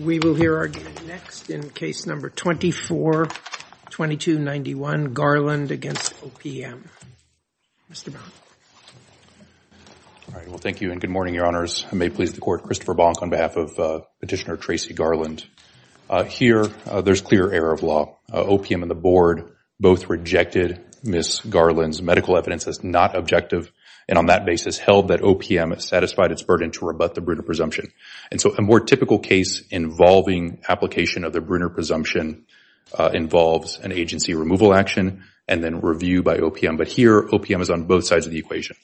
We will hear our next in case number 24-2291 Garland against OPM. Mr. Baum. All right well thank you and good morning your honors. I may please the court. Christopher Baum on behalf of petitioner Tracy Garland. Here there's clear error of law. OPM and the board both rejected Ms. Garland's medical evidence as not objective and on that basis held that OPM satisfied its burden to rebut the Brunner presumption. And so a more typical case involving application of the Brunner presumption involves an agency removal action and then review by OPM. But here OPM is on both sides of the equation.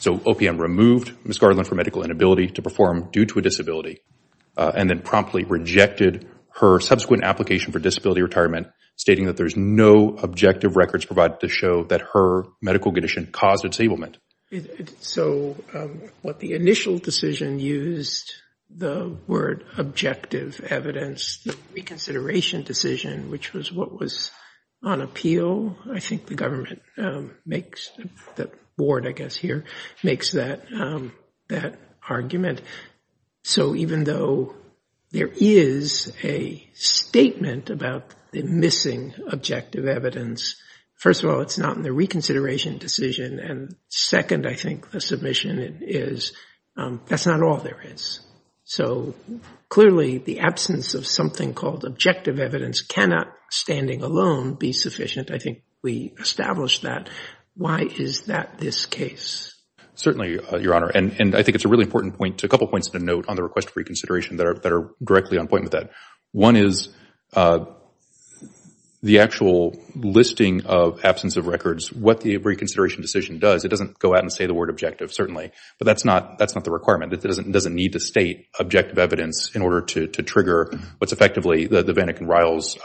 So OPM removed Ms. Garland for medical inability to perform due to a disability and then promptly rejected her subsequent application for disability retirement stating that there's no objective records provided to show that her medical condition caused disablement. So what the initial decision used the word objective evidence, the reconsideration decision which was what was on appeal. I think the government makes the board I guess here makes that argument. So even though there is a statement about the missing objective evidence, first of all it's not in the reconsideration decision and second I think the submission is that's not all there is. So clearly the absence of something called objective evidence cannot standing alone be sufficient. I think we established that. Why is that this case? Certainly your honor and I think it's a really important point a couple points to note on the request for reconsideration that are that are directly on point with that. One is the actual listing of absence of records. What the reconsideration decision does it doesn't go out and say the word objective certainly but that's not that's not the requirement. It doesn't need to state objective evidence in order to trigger what's effectively the Vannik and Riles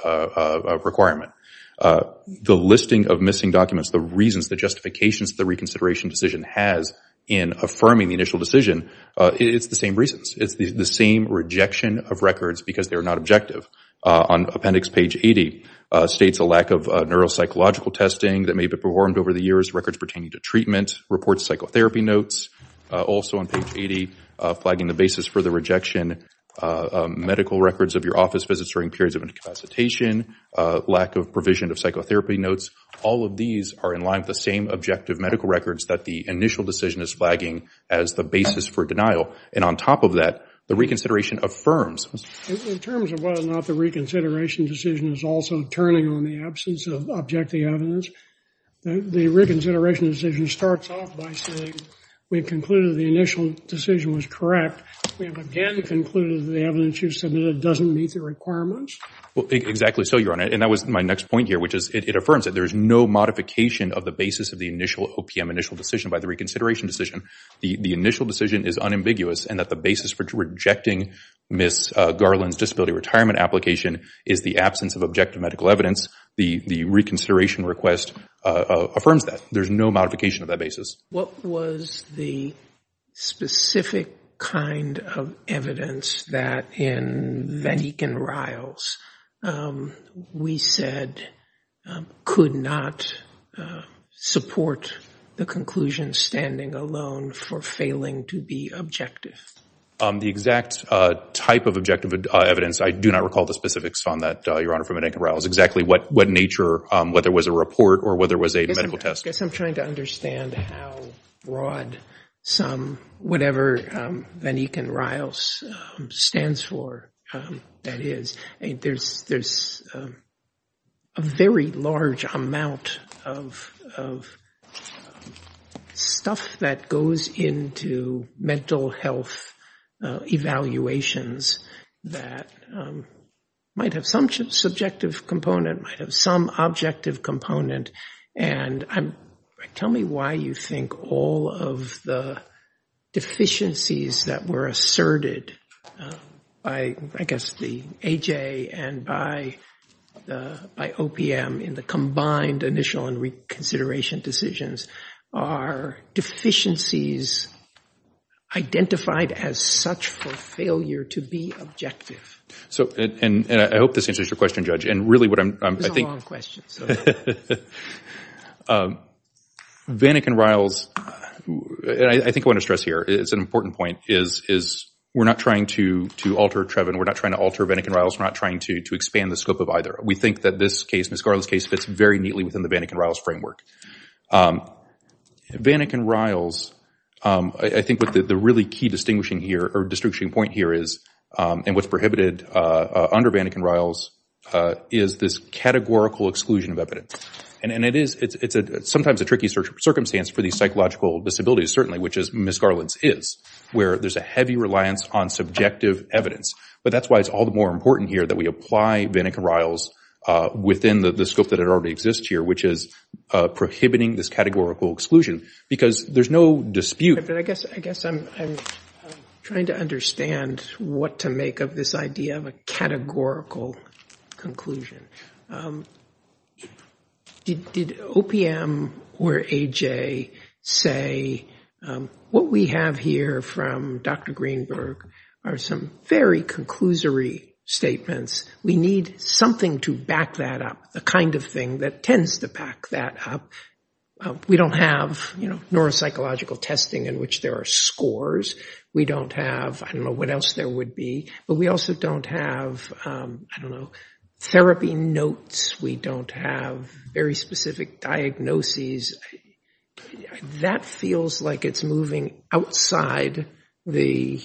requirement. The listing of missing documents the reasons the justifications the reconsideration decision has in affirming the initial decision it's the same reasons. It's the same rejection of records because they are not objective. On appendix page 80 states a lack of neuropsychological testing that may be performed over the years records pertaining to treatment reports psychotherapy notes. Also on page 80 flagging the basis for the rejection medical records of your office visits during periods of incapacitation lack of provision of psychotherapy notes. All of these are in line with the same objective medical records that the initial decision is flagging as the basis for and on top of that the reconsideration affirms. In terms of whether or not the reconsideration decision is also turning on the absence of objective evidence the reconsideration decision starts off by saying we concluded the initial decision was correct. We have again concluded the evidence you submitted doesn't meet the requirements. Well exactly so your honor and that was my next point here which is it affirms that there is no modification of the basis of OPM initial decision by the reconsideration decision. The initial decision is unambiguous and that the basis for rejecting Ms. Garland's disability retirement application is the absence of objective medical evidence. The reconsideration request affirms that there's no modification of that basis. What was the specific kind of evidence that in Van Eken Riles we said could not support the conclusion standing alone for failing to be objective? The exact type of objective evidence I do not recall the specifics on that your honor from Van Eken Riles exactly what what nature whether it was a report or whether it was a medical test. I guess I'm trying to understand how broad some whatever Van Eken Riles stands for that is. There's a very large amount of stuff that goes into mental health evaluations that might have some subjective component might have some objective component and I'm tell me why you think all of the deficiencies that were asserted by I guess the AJ and by OPM in the combined initial and reconsideration decisions are deficiencies identified as such for failure to be objective. So and I hope this answers your question judge and really what I'm I think questions Van Eken Riles and I think I want to stress here it's an important point is is we're not trying to to alter Trevin we're not trying to alter Van Eken Riles we're not trying to to expand the scope of either we think that this case Ms. Garland's case fits very neatly within the Van Eken Riles framework. Van Eken Riles I think what the really key distinguishing here or distinguishing point here is and what's prohibited under Van Eken Riles is this categorical exclusion of evidence and it is it's a sometimes a tricky search circumstance for these psychological disabilities certainly which is Ms. Garland's is where there's a heavy reliance on subjective evidence but that's why it's all the more important here that we apply Van Eken Riles within the scope that it already exists here which is prohibiting this categorical exclusion because there's no dispute. I guess I'm trying to understand what to make of this idea of a categorical conclusion. Did OPM or AJ say what we have here from Dr. Greenberg are some very conclusory statements we need something to back that up the kind of thing that tends to pack that up. We don't have you know neuropsychological testing in which there are scores. We don't have I don't know what else there would be but we also don't have I don't know therapy notes. We don't have very specific diagnoses. That feels like it's moving outside the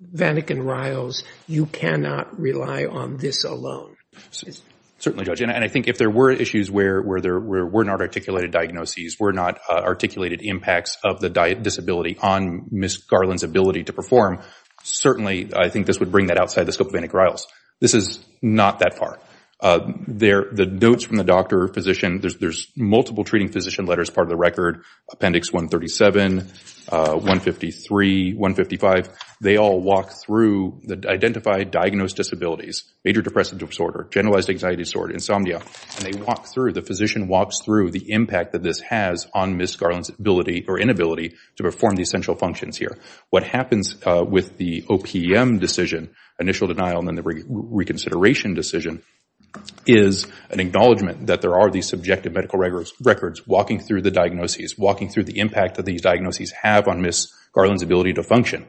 Van Eken Riles. You cannot rely on this alone. Certainly judge and I think if there were issues where there were not articulated diagnoses were not articulated impacts of the disability on Ms. Garland's ability to perform certainly I think this would bring that outside the scope of Van Eken Riles. This is not that far. The notes from the doctor physician there's multiple treating physician letters part of the record appendix 137, 153, 155. They all walk through the identified diagnosed disabilities. Major depressive disorder, generalized anxiety disorder, insomnia and they walk through the physician walks through the impact that this has on Ms. Garland's ability or inability to perform the essential functions here. What happens with the OPM decision initial denial and then the reconsideration decision is an acknowledgment that there are these subjective medical records walking through the diagnoses walking through the impact that these diagnoses have on Ms. Garland's ability to function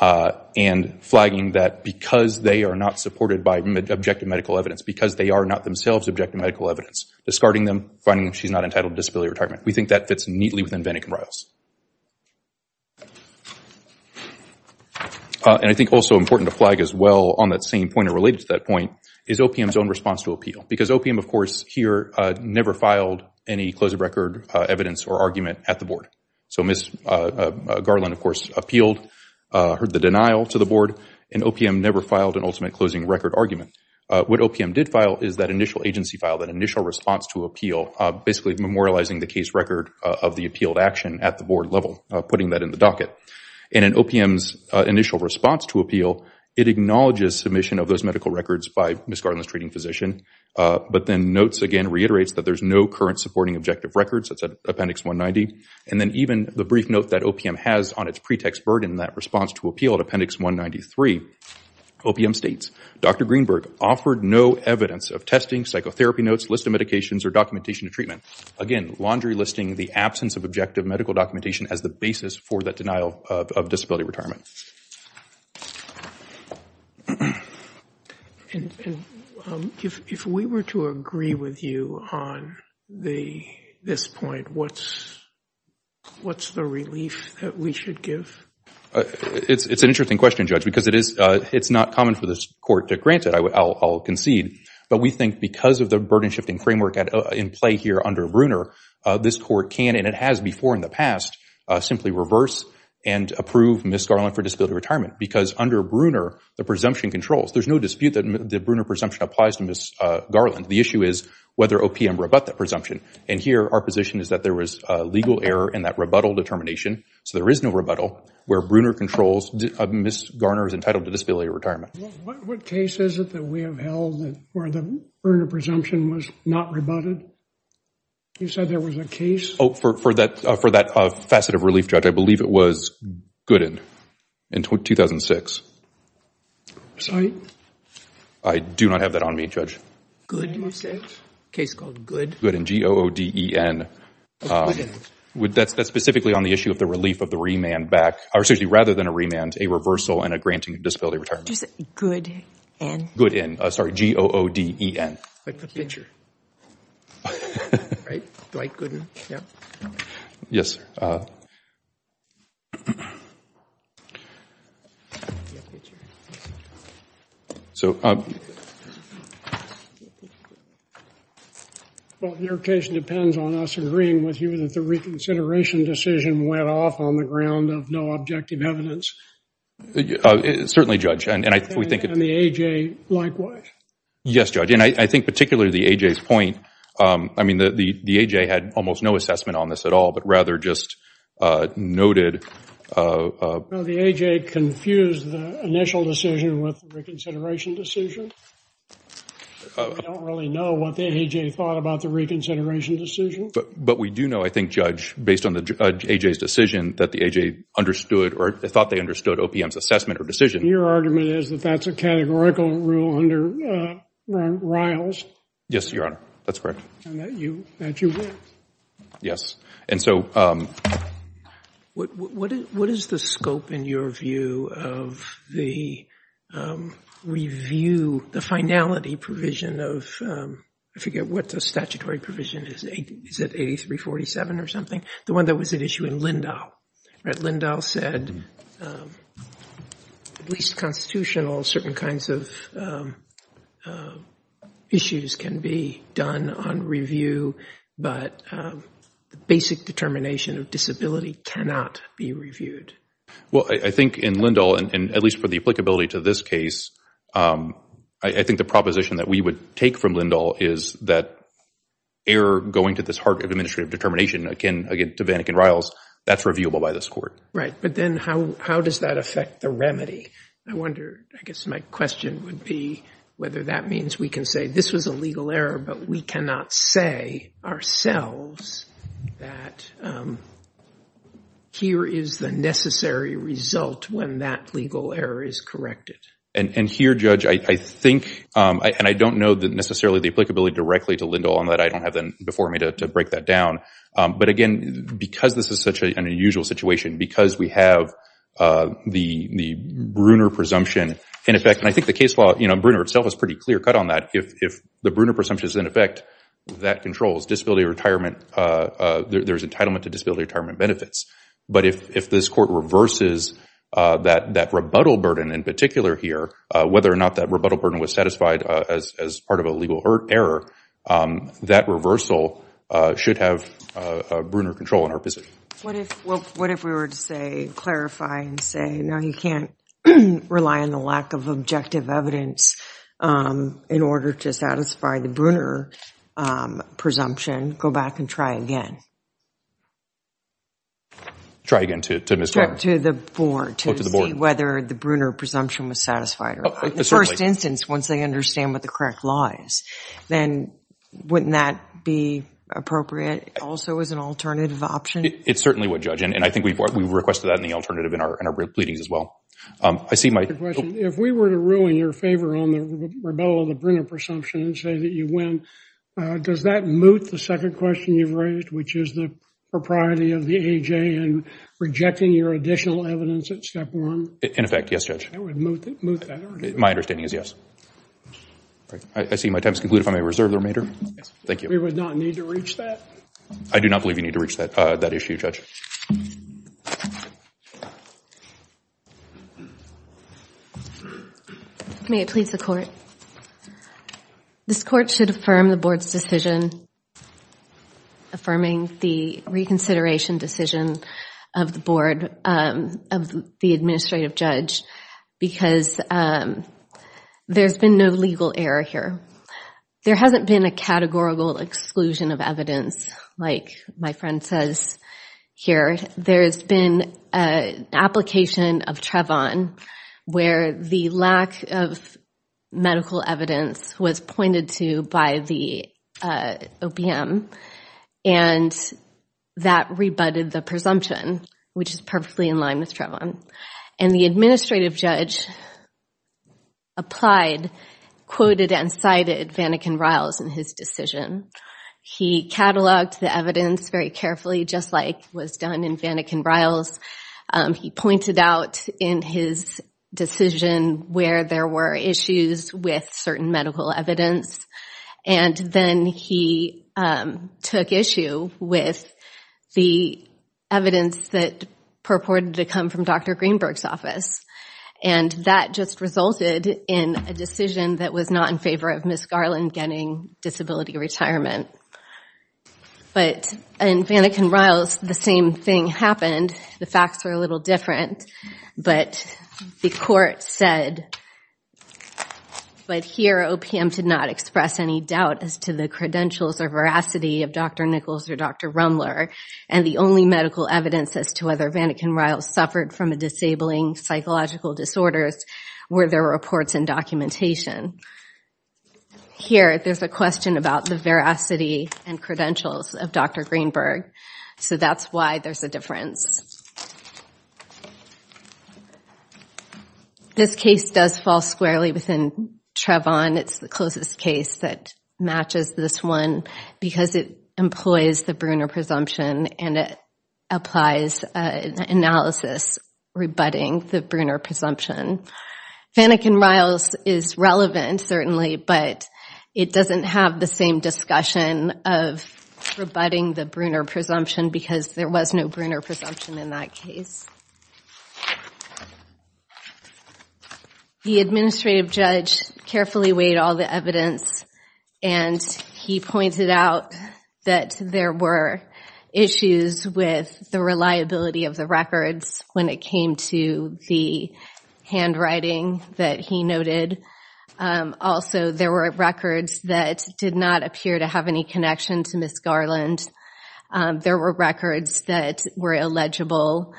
and flagging that because they are not supported by objective medical evidence because they are not themselves objective medical evidence discarding them finding she's not entitled disability retirement. We think that fits neatly within Van Eken Riles. I think also important to flag as well on that same point or related to that point is OPM's own response to appeal because OPM of course here never filed any close of record evidence or argument at the board. So Ms. Garland of course appealed heard the denial to the board and OPM never filed an ultimate closing record argument. What OPM did file is that initial agency file that initial response to appeal basically memorializing the case record of the appealed action at the board level putting that in the docket and in OPM's initial response to appeal it acknowledges submission of those medical records by Ms. Garland's treating physician but then notes again reiterates that there's no current supporting objective records that's appendix 190 and then even the brief note that OPM has on its pretext burden that response to appeal at appendix 193 OPM states Dr. Greenberg offered no evidence of testing psychotherapy notes listed medications or documentation to treatment again laundry listing the absence of objective medical documentation as the basis for that the this point what's what's the relief that we should give it's it's an interesting question judge because it is it's not common for this court to grant it I'll concede but we think because of the burden shifting framework at in play here under Bruner this court can and it has before in the past simply reverse and approve Ms. Garland for disability retirement because under Bruner the presumption controls there's no dispute that the Bruner presumption applies to Ms. Garland the issue is whether OPM rebut that presumption and here our position is that there was a legal error in that rebuttal determination so there is no rebuttal where Bruner controls Ms. Garner is entitled to disability retirement. What case is it that we have held that where the Bruner presumption was not rebutted? You said there was a case? Oh for for that for that facet of relief judge I believe it was Gooden in 2006. Site? I do not have that on me judge. Gooden you said? Case called Gooden. Gooden. G-O-O-D-E-N. That's specifically on the issue of the relief of the remand back or excuse me rather than a remand a reversal and a granting of disability retirement. Did you say Gooden? Gooden. Sorry G-O-O-D-E-N. I put pitcher. Right Dwight Gooden. Yes. Well your case depends on us agreeing with you that the reconsideration decision went off on the ground of no objective evidence. Certainly judge and I think we think. And the A.J. likewise. Yes judge and I think particularly the A.J.'s point I mean the the the A.J. had almost no assessment on this at all but rather just noted. The A.J. confused the initial decision with the reconsideration decision. We don't really know what the A.J. thought about the reconsideration decision. But we do know I think judge based on the A.J.'s decision that the A.J. understood or they thought they understood OPM's assessment or decision. Your argument is that that's a categorical rule under Riles? Yes your honor that's correct. And that you would? Yes. And so what is the scope in your view of the review the finality provision of I forget what the statutory provision is. Is it 83-47 or something? The one that was at issue in Lindahl. Right Lindahl said at least constitutional certain kinds of issues can be done on review but the basic determination of disability cannot be reviewed. Well I think in Lindahl and at least for the applicability to this case I think the proposition that we would take from Lindahl is that error going to this heart of administrative determination again to Vanek and Riles that's reviewable by this court. Right but then how does that affect the remedy? I wonder I guess my question would be whether that means we can say this was a legal error but we cannot say ourselves that here is the necessary result when that legal error is corrected. And here judge I think and I don't know that necessarily the applicability directly to and that I don't have them before me to break that down. But again because this is such an unusual situation because we have the Bruner presumption in effect and I think the case law you know Bruner itself is pretty clear cut on that. If the Bruner presumption is in effect that controls disability retirement there's entitlement to disability retirement benefits. But if this court reverses that rebuttal burden in particular here whether or not that rebuttal burden was satisfied as part of a legal error that reversal should have a Bruner control in our position. What if what if we were to say clarify and say no you can't rely on the lack of objective evidence in order to satisfy the Bruner presumption go back and try again. Try again to the board to see whether the Bruner presumption was satisfied. The first instance once they understand what the correct law is then wouldn't that be appropriate also as an alternative option? It's certainly what judge and I think we've we've requested that in the alternative in our in our brief leadings as well. I see my question if we were to ruin your favor on the rebuttal of the Bruner presumption and say that you win does that moot the second question you've raised which is the propriety of the AJ and rejecting your additional evidence at In effect yes judge. My understanding is yes. I see my time is concluded if I may reserve the remainder. Thank you. We would not need to reach that? I do not believe you need to reach that that issue judge. May it please the court. This court should affirm the board's decision affirming the reconsideration decision of the board of the administrative judge because there's been no legal error here. There hasn't been a categorical exclusion of evidence like my friend says here. There's been a application of Trevon where the lack of medical evidence was pointed to by the OPM and that rebutted the presumption which is perfectly in line with Trevon and the administrative judge applied quoted and cited Vannikin-Riles in his decision. He cataloged the evidence very carefully just like was done in Vannikin-Riles. He pointed out in his decision where there were issues with certain medical evidence and then he took issue with the evidence that purported to come from Dr. Greenberg's office and that just resulted in a decision that was not in favor of Ms. Garland getting disability retirement. In Vannikin-Riles the same thing happened. The facts were a little different but the court said but here OPM did not express any doubt as to the credentials or veracity of Dr. Nichols or Dr. Rumler and the only medical evidence as to whether Vannikin-Riles suffered from a disabling psychological disorders were their reports and documentation. Here there's a question about the and credentials of Dr. Greenberg so that's why there's a difference. This case does fall squarely within Trevon. It's the closest case that matches this one because it employs the Bruner presumption and it applies an analysis rebutting the Bruner presumption. Vannikin-Riles is relevant certainly but it doesn't have the same discussion of rebutting the Bruner presumption because there was no Bruner presumption in that case. The administrative judge carefully weighed all the evidence and he pointed out that there were issues with the reliability of the records when it came to the handwriting that he noted. Also there were records that did not appear to have any connection to Ms. Garland. There were records that were illegible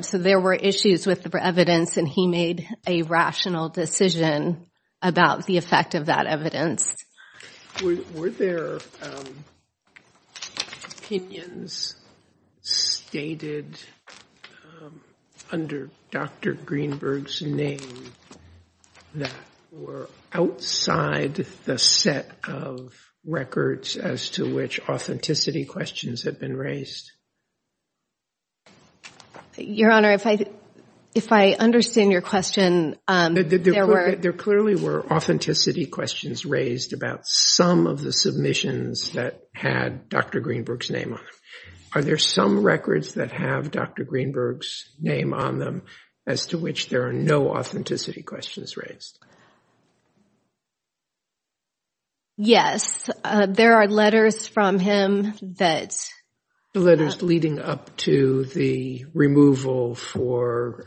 so there were issues with the evidence and he made a rational decision about the effect of that evidence. Were there opinions stated under Dr. Greenberg's name that were outside the set of records as to which authenticity questions had been raised? Your Honor, if I understand your question, there clearly were authenticity questions raised about some of the submissions that had Dr. Greenberg's name on them. Are there some records that have Dr. Greenberg's name on them as to which there are no authenticity questions raised? Yes, there are letters from him that The letters leading up to the removal for,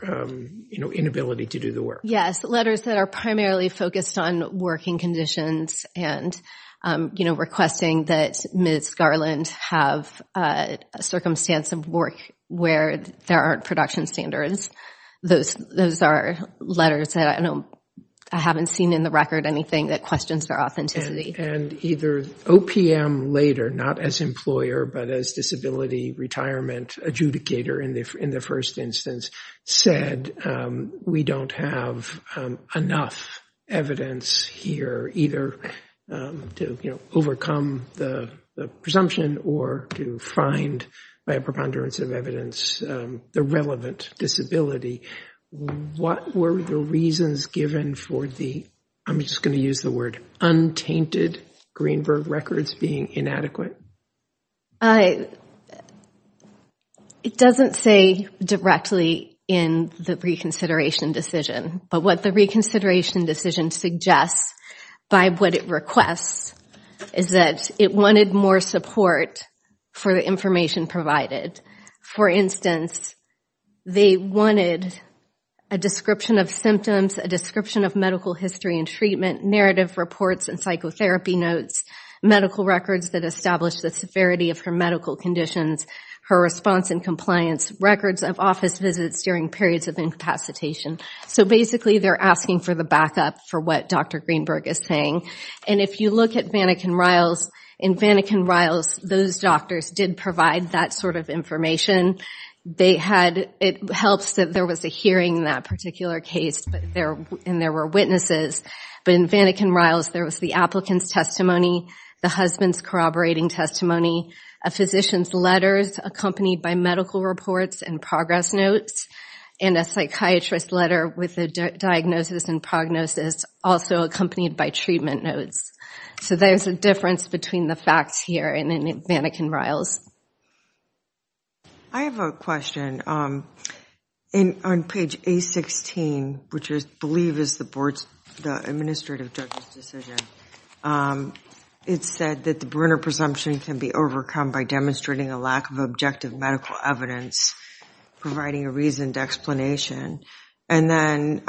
you know, inability to do the work. Yes, letters that are primarily focused on working conditions and, you know, requesting that Ms. Garland have a circumstance of work where there aren't production standards. Those are letters I know I haven't seen in the record anything that questions their authenticity. And either OPM later, not as employer, but as disability retirement adjudicator in the first instance, said we don't have enough evidence here either to, you know, overcome the presumption or to find by a preponderance of evidence the relevant disability. What were the reasons given for the, I'm just going to use the word, untainted Greenberg records being inadequate? It doesn't say directly in the reconsideration decision, but what the reconsideration decision suggests by what it requests is that it wanted more support for the information provided. For instance, they wanted a description of symptoms, a description of medical history and treatment, narrative reports and psychotherapy notes, medical records that establish the severity of her medical conditions, her response and compliance, records of office visits during periods of incapacitation. So basically, they're asking for the backup for what Dr. Greenberg is saying. And if you look at Vannikin-Riles, in Vannikin-Riles, those doctors did provide that sort of information. They had, it helps that there was a hearing in that particular case and there were witnesses. But in Vannikin-Riles, there was the applicant's testimony, the husband's corroborating testimony, a physician's letters accompanied by medical reports and progress notes, and a psychiatrist's letter with a diagnosis and prognosis, also accompanied by treatment notes. So there's a difference between the facts here and in Vannikin-Riles. I have a question. On page A-16, which I believe is the board's, the administrative judge's decision, it said that the Brunner presumption can be overcome by demonstrating a lack of objective medical evidence, providing a reasoned explanation. And then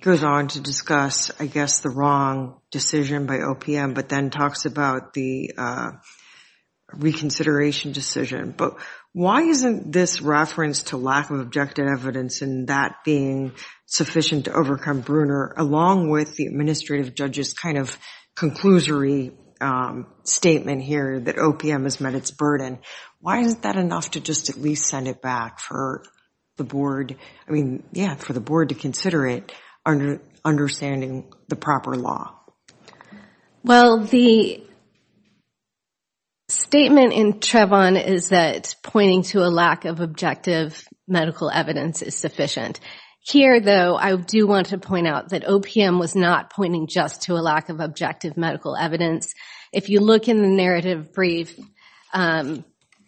goes on to discuss, I guess, the wrong decision by OPM, but then talks about the reconsideration decision. But why isn't this reference to lack of objective evidence and that being sufficient to overcome Brunner, along with the administrative judge's kind of conclusory statement here that OPM has met its burden, why isn't that enough to just at least send it back for the board, I mean, yeah, for the board to consider it, understanding the proper law? Well, the statement in Trevon is that pointing to a lack of objective medical evidence is sufficient. Here, though, I do want to point out that OPM was not pointing just to a lack of medical evidence. If you look in the narrative brief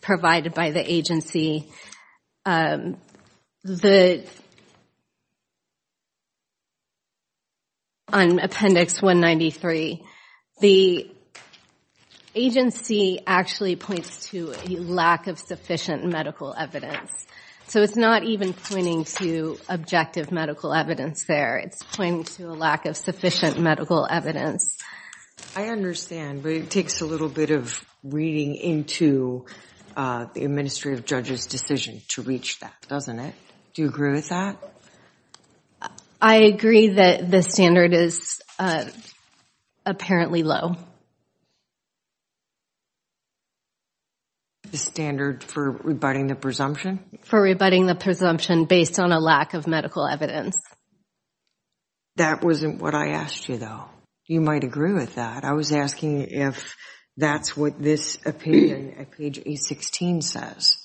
provided by the agency, on Appendix 193, the agency actually points to a lack of sufficient medical evidence. So it's not even pointing to objective medical evidence there. It's pointing to a lack of medical evidence. I understand, but it takes a little bit of reading into the administrative judge's decision to reach that, doesn't it? Do you agree with that? I agree that the standard is apparently low. The standard for rebutting the presumption? For rebutting the presumption based on a lack of evidence. That wasn't what I asked you, though. You might agree with that. I was asking if that's what this opinion at page A-16 says.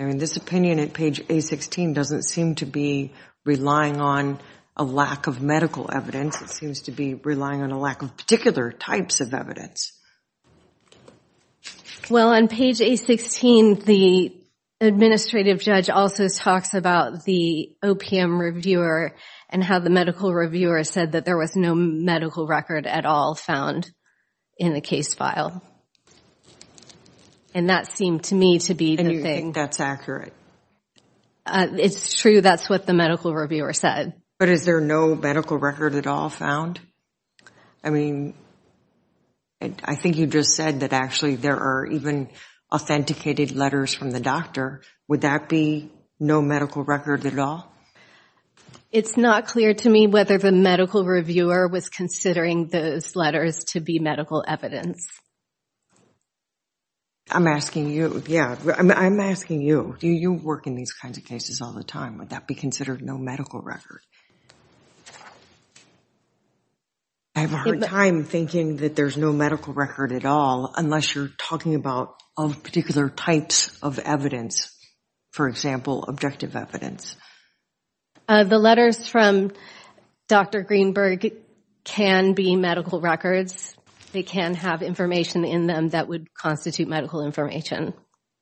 I mean, this opinion at page A-16 doesn't seem to be relying on a lack of medical evidence. It the administrative judge also talks about the OPM reviewer and how the medical reviewer said that there was no medical record at all found in the case file. And that seemed to me to be the thing. And you think that's accurate? It's true. That's what the medical reviewer said. But is there no medical record at all found? I mean, I think you just said that actually there are even authenticated letters from the doctor. Would that be no medical record at all? It's not clear to me whether the medical reviewer was considering those letters to be medical evidence. I'm asking you. Yeah. I'm asking you. You work in these kinds of cases all the time. Would that be considered no medical record? I have a hard time thinking that there's no medical record at all unless you're talking about all the particular types of evidence, for example, objective evidence. The letters from Dr. Greenberg can be medical records. They can have information in them that would constitute medical information.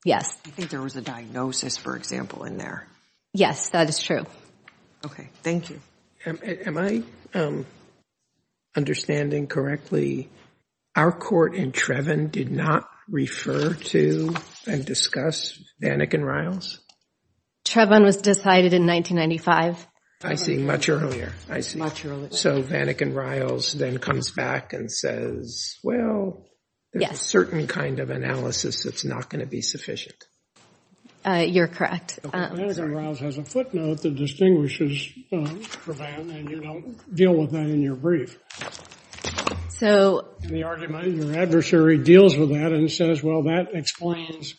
Yes. I think there was a diagnosis, for example, in there. Yes, that is true. Okay. Thank you. Am I understanding correctly, our court in Treven did not refer to and discuss Vanek and Riles? Treven was decided in 1995. I see. Much earlier. I see. Much earlier. So Vanek and Riles then comes back and says, well, there's a certain kind of analysis that's not going to be sufficient. You're correct. Vanek and Riles has a footnote that distinguishes Treven and you don't deal with that in your brief. So. The argument, your adversary deals with that and says, well, that explains,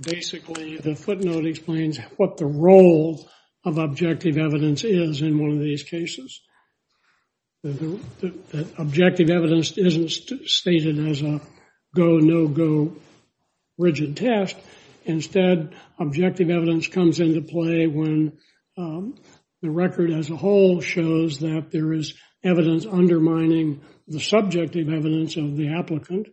basically, the footnote explains what the role of objective evidence is in one of these cases. Objective evidence isn't stated as a go, no-go rigid test. Instead, objective evidence comes into play when the record as a whole shows that there is evidence undermining the subjective evidence of the applicant.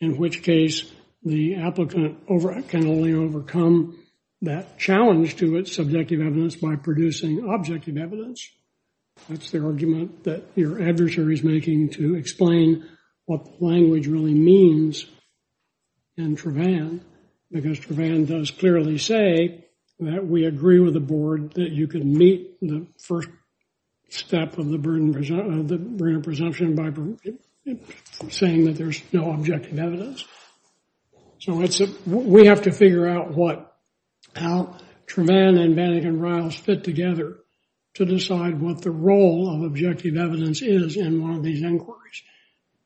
In which case, the applicant can only overcome that challenge to its subjective evidence by producing objective evidence. That's the argument that your adversary is making to explain what language really means in Treven, because Treven does clearly say that we agree with the board that you can meet the first step of the burden of presumption by saying that there's no objective evidence. So it's, we have to figure out what, how Treven and Vanek and Riles fit together to decide what the role of objective evidence is in one of these inquiries.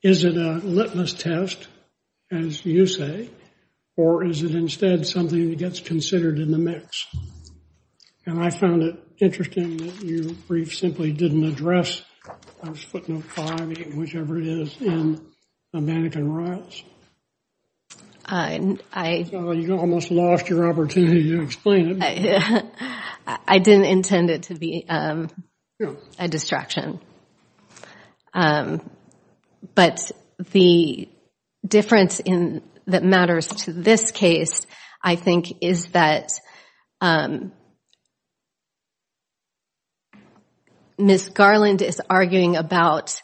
Is it a litmus test, as you say, or is it instead something that gets considered in the mix? And I found it interesting that your brief simply didn't address footnote five, eight, whichever it is, in Vanek and Riles. I, I. You almost lost your opportunity to explain it. I didn't intend it to be a distraction. But the difference in, that matters to this case, I think is that Ms. Garland is arguing about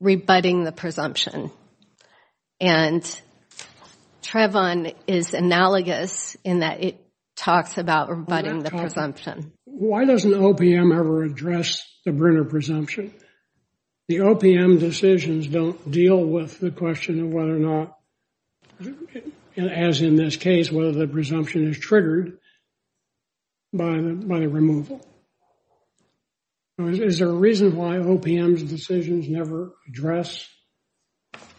rebutting the presumption. And Treven is analogous in that it talks about rebutting the presumption. Why doesn't OPM ever address the burden of presumption? The OPM decisions don't deal with the question of whether or not, as in this case, whether the presumption is triggered by the, by the removal. Is there a reason why OPM's decisions never address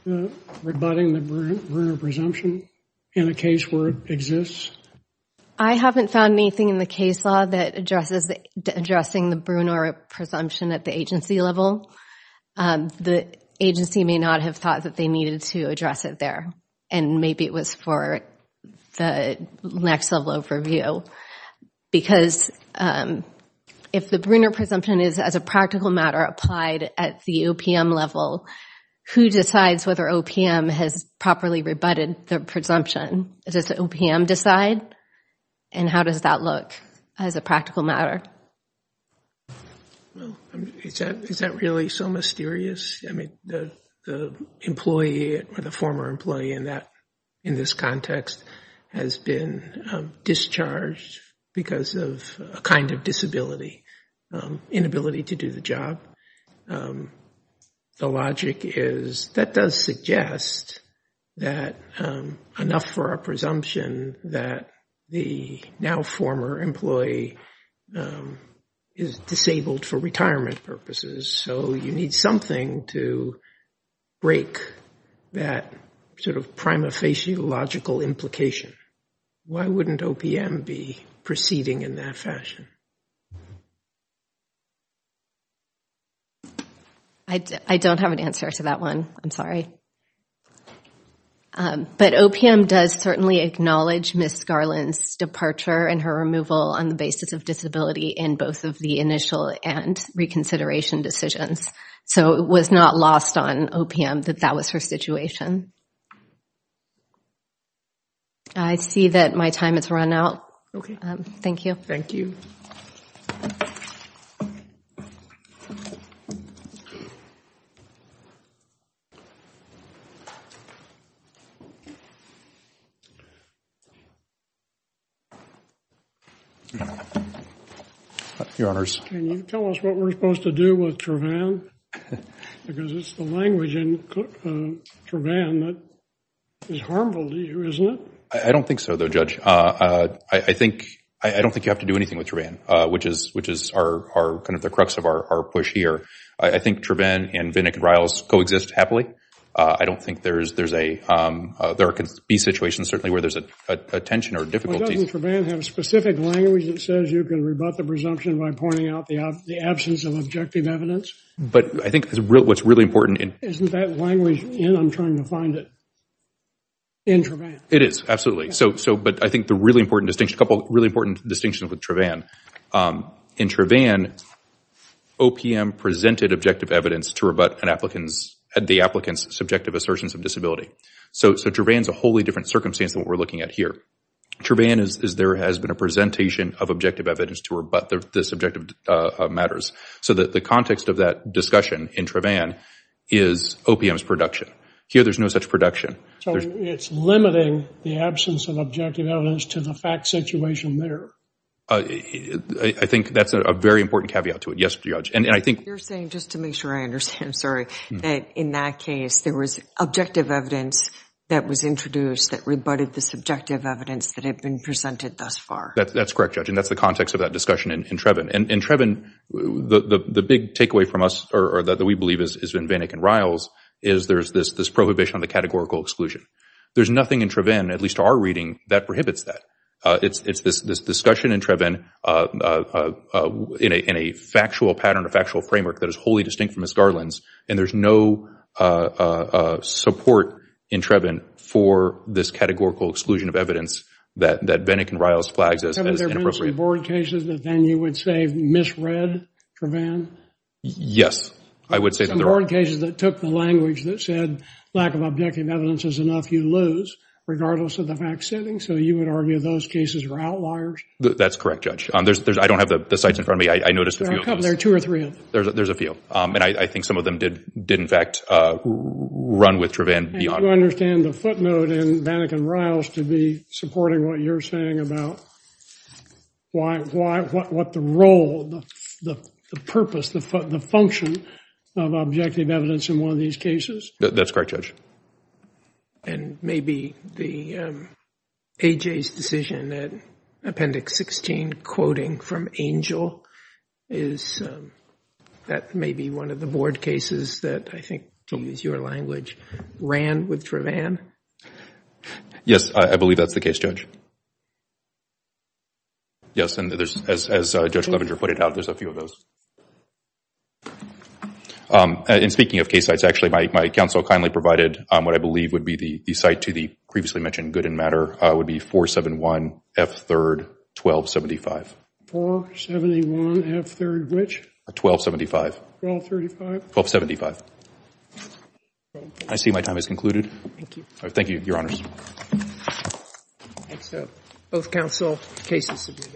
rebutting the burden of presumption in a case where it exists? I haven't found anything in the case law that addresses, addressing the Brunner presumption at the agency level. The agency may not have thought that they needed to address it there. And maybe it was for the next level overview. Because if the Brunner presumption is, as a practical matter, applied at the OPM level, who decides whether OPM has properly rebutted the presumption? Does OPM decide? And how does that look as a practical matter? Well, is that, is that really so mysterious? I mean, the employee or the former employee in that, in this context, has been discharged because of a kind of disability, inability to do the job. The logic is, that does suggest that enough for a presumption that the now former employee is disabled for retirement purposes. So you need something to break that sort of prima facie logical implication. Why wouldn't OPM be proceeding in that fashion? I don't have an answer to that one. I'm sorry. But OPM does certainly acknowledge Miss Garland's departure and her removal on the basis of disability in both of the initial and reconsideration decisions. So it was not lost on OPM that that was her situation. I see that my time has run out. Okay. Thank you. Thank you. Your Honors. Can you tell us what we're supposed to do with Travann? Because it's the language in Travann that is harmful to you, isn't it? I don't think so, though, Judge. I don't think you have to do anything with Travann, which is kind of the crux of our push here. I think Travann and Vinnick and Riles coexist happily. I don't think there could be situations certainly where there's a tension or difficulty. Well, doesn't Travann have a specific language that says you can rebut the presumption by pointing out the absence of objective evidence? But I think what's really important— Isn't that language in? I'm trying to find it. In Travann. It is. Absolutely. But I think a couple of really important distinctions with Travann. In Travann, OPM presented objective evidence to rebut the applicant's subjective assertions of disability. So Travann is a wholly different circumstance than what we're looking at here. Travann is there has been a presentation of objective evidence to rebut the subjective matters. So the context of that discussion in Travann is OPM's production. Here, there's no such production. So it's limiting the absence of objective evidence to the fact situation there. I think that's a very important caveat to it. Yes, Judge. And I think— You're saying, just to make sure I understand, sorry, that in that case, there was objective evidence that was introduced that rebutted the subjective evidence that had been presented thus far. That's correct, Judge. And that's the context of that discussion in Travann. And in Travann, the big takeaway from us or that we believe is in Vinnick and Riles is this prohibition on the categorical exclusion. There's nothing in Travann, at least to our reading, that prohibits that. It's this discussion in Travann in a factual pattern, a factual framework that is wholly distinct from Ms. Garland's. And there's no support in Travann for this categorical exclusion of evidence that Vinnick and Riles flags as inappropriate. Haven't there been some board cases that then you would say misread Travann? Yes, I would say that there are. There are cases that took the language that said lack of objective evidence is enough you lose, regardless of the fact setting. So you would argue those cases are outliers? That's correct, Judge. I don't have the sites in front of me. I noticed a few of those. There are two or three of them. There's a few. And I think some of them did, in fact, run with Travann beyond— Do you understand the footnote in Vinnick and Riles to be supporting what you're saying about what the role, the purpose, the function of objective evidence in one of these cases? That's correct, Judge. And maybe the A.J.'s decision that Appendix 16 quoting from Angel is, that may be one of the board cases that I think, to use your language, ran with Travann? Yes, I believe that's the case, Judge. Yes, and there's, as Judge Clevenger put it out, there's a few of those. And speaking of case sites, actually, my counsel kindly provided what I believe would be the site to the previously mentioned good and matter, would be 471 F3rd 1275. 471 F3rd which? 1275. 1235? 1275. I see my time has concluded. Thank you. Thank you, Your Honors. Thank you. That's both counsel cases submitted.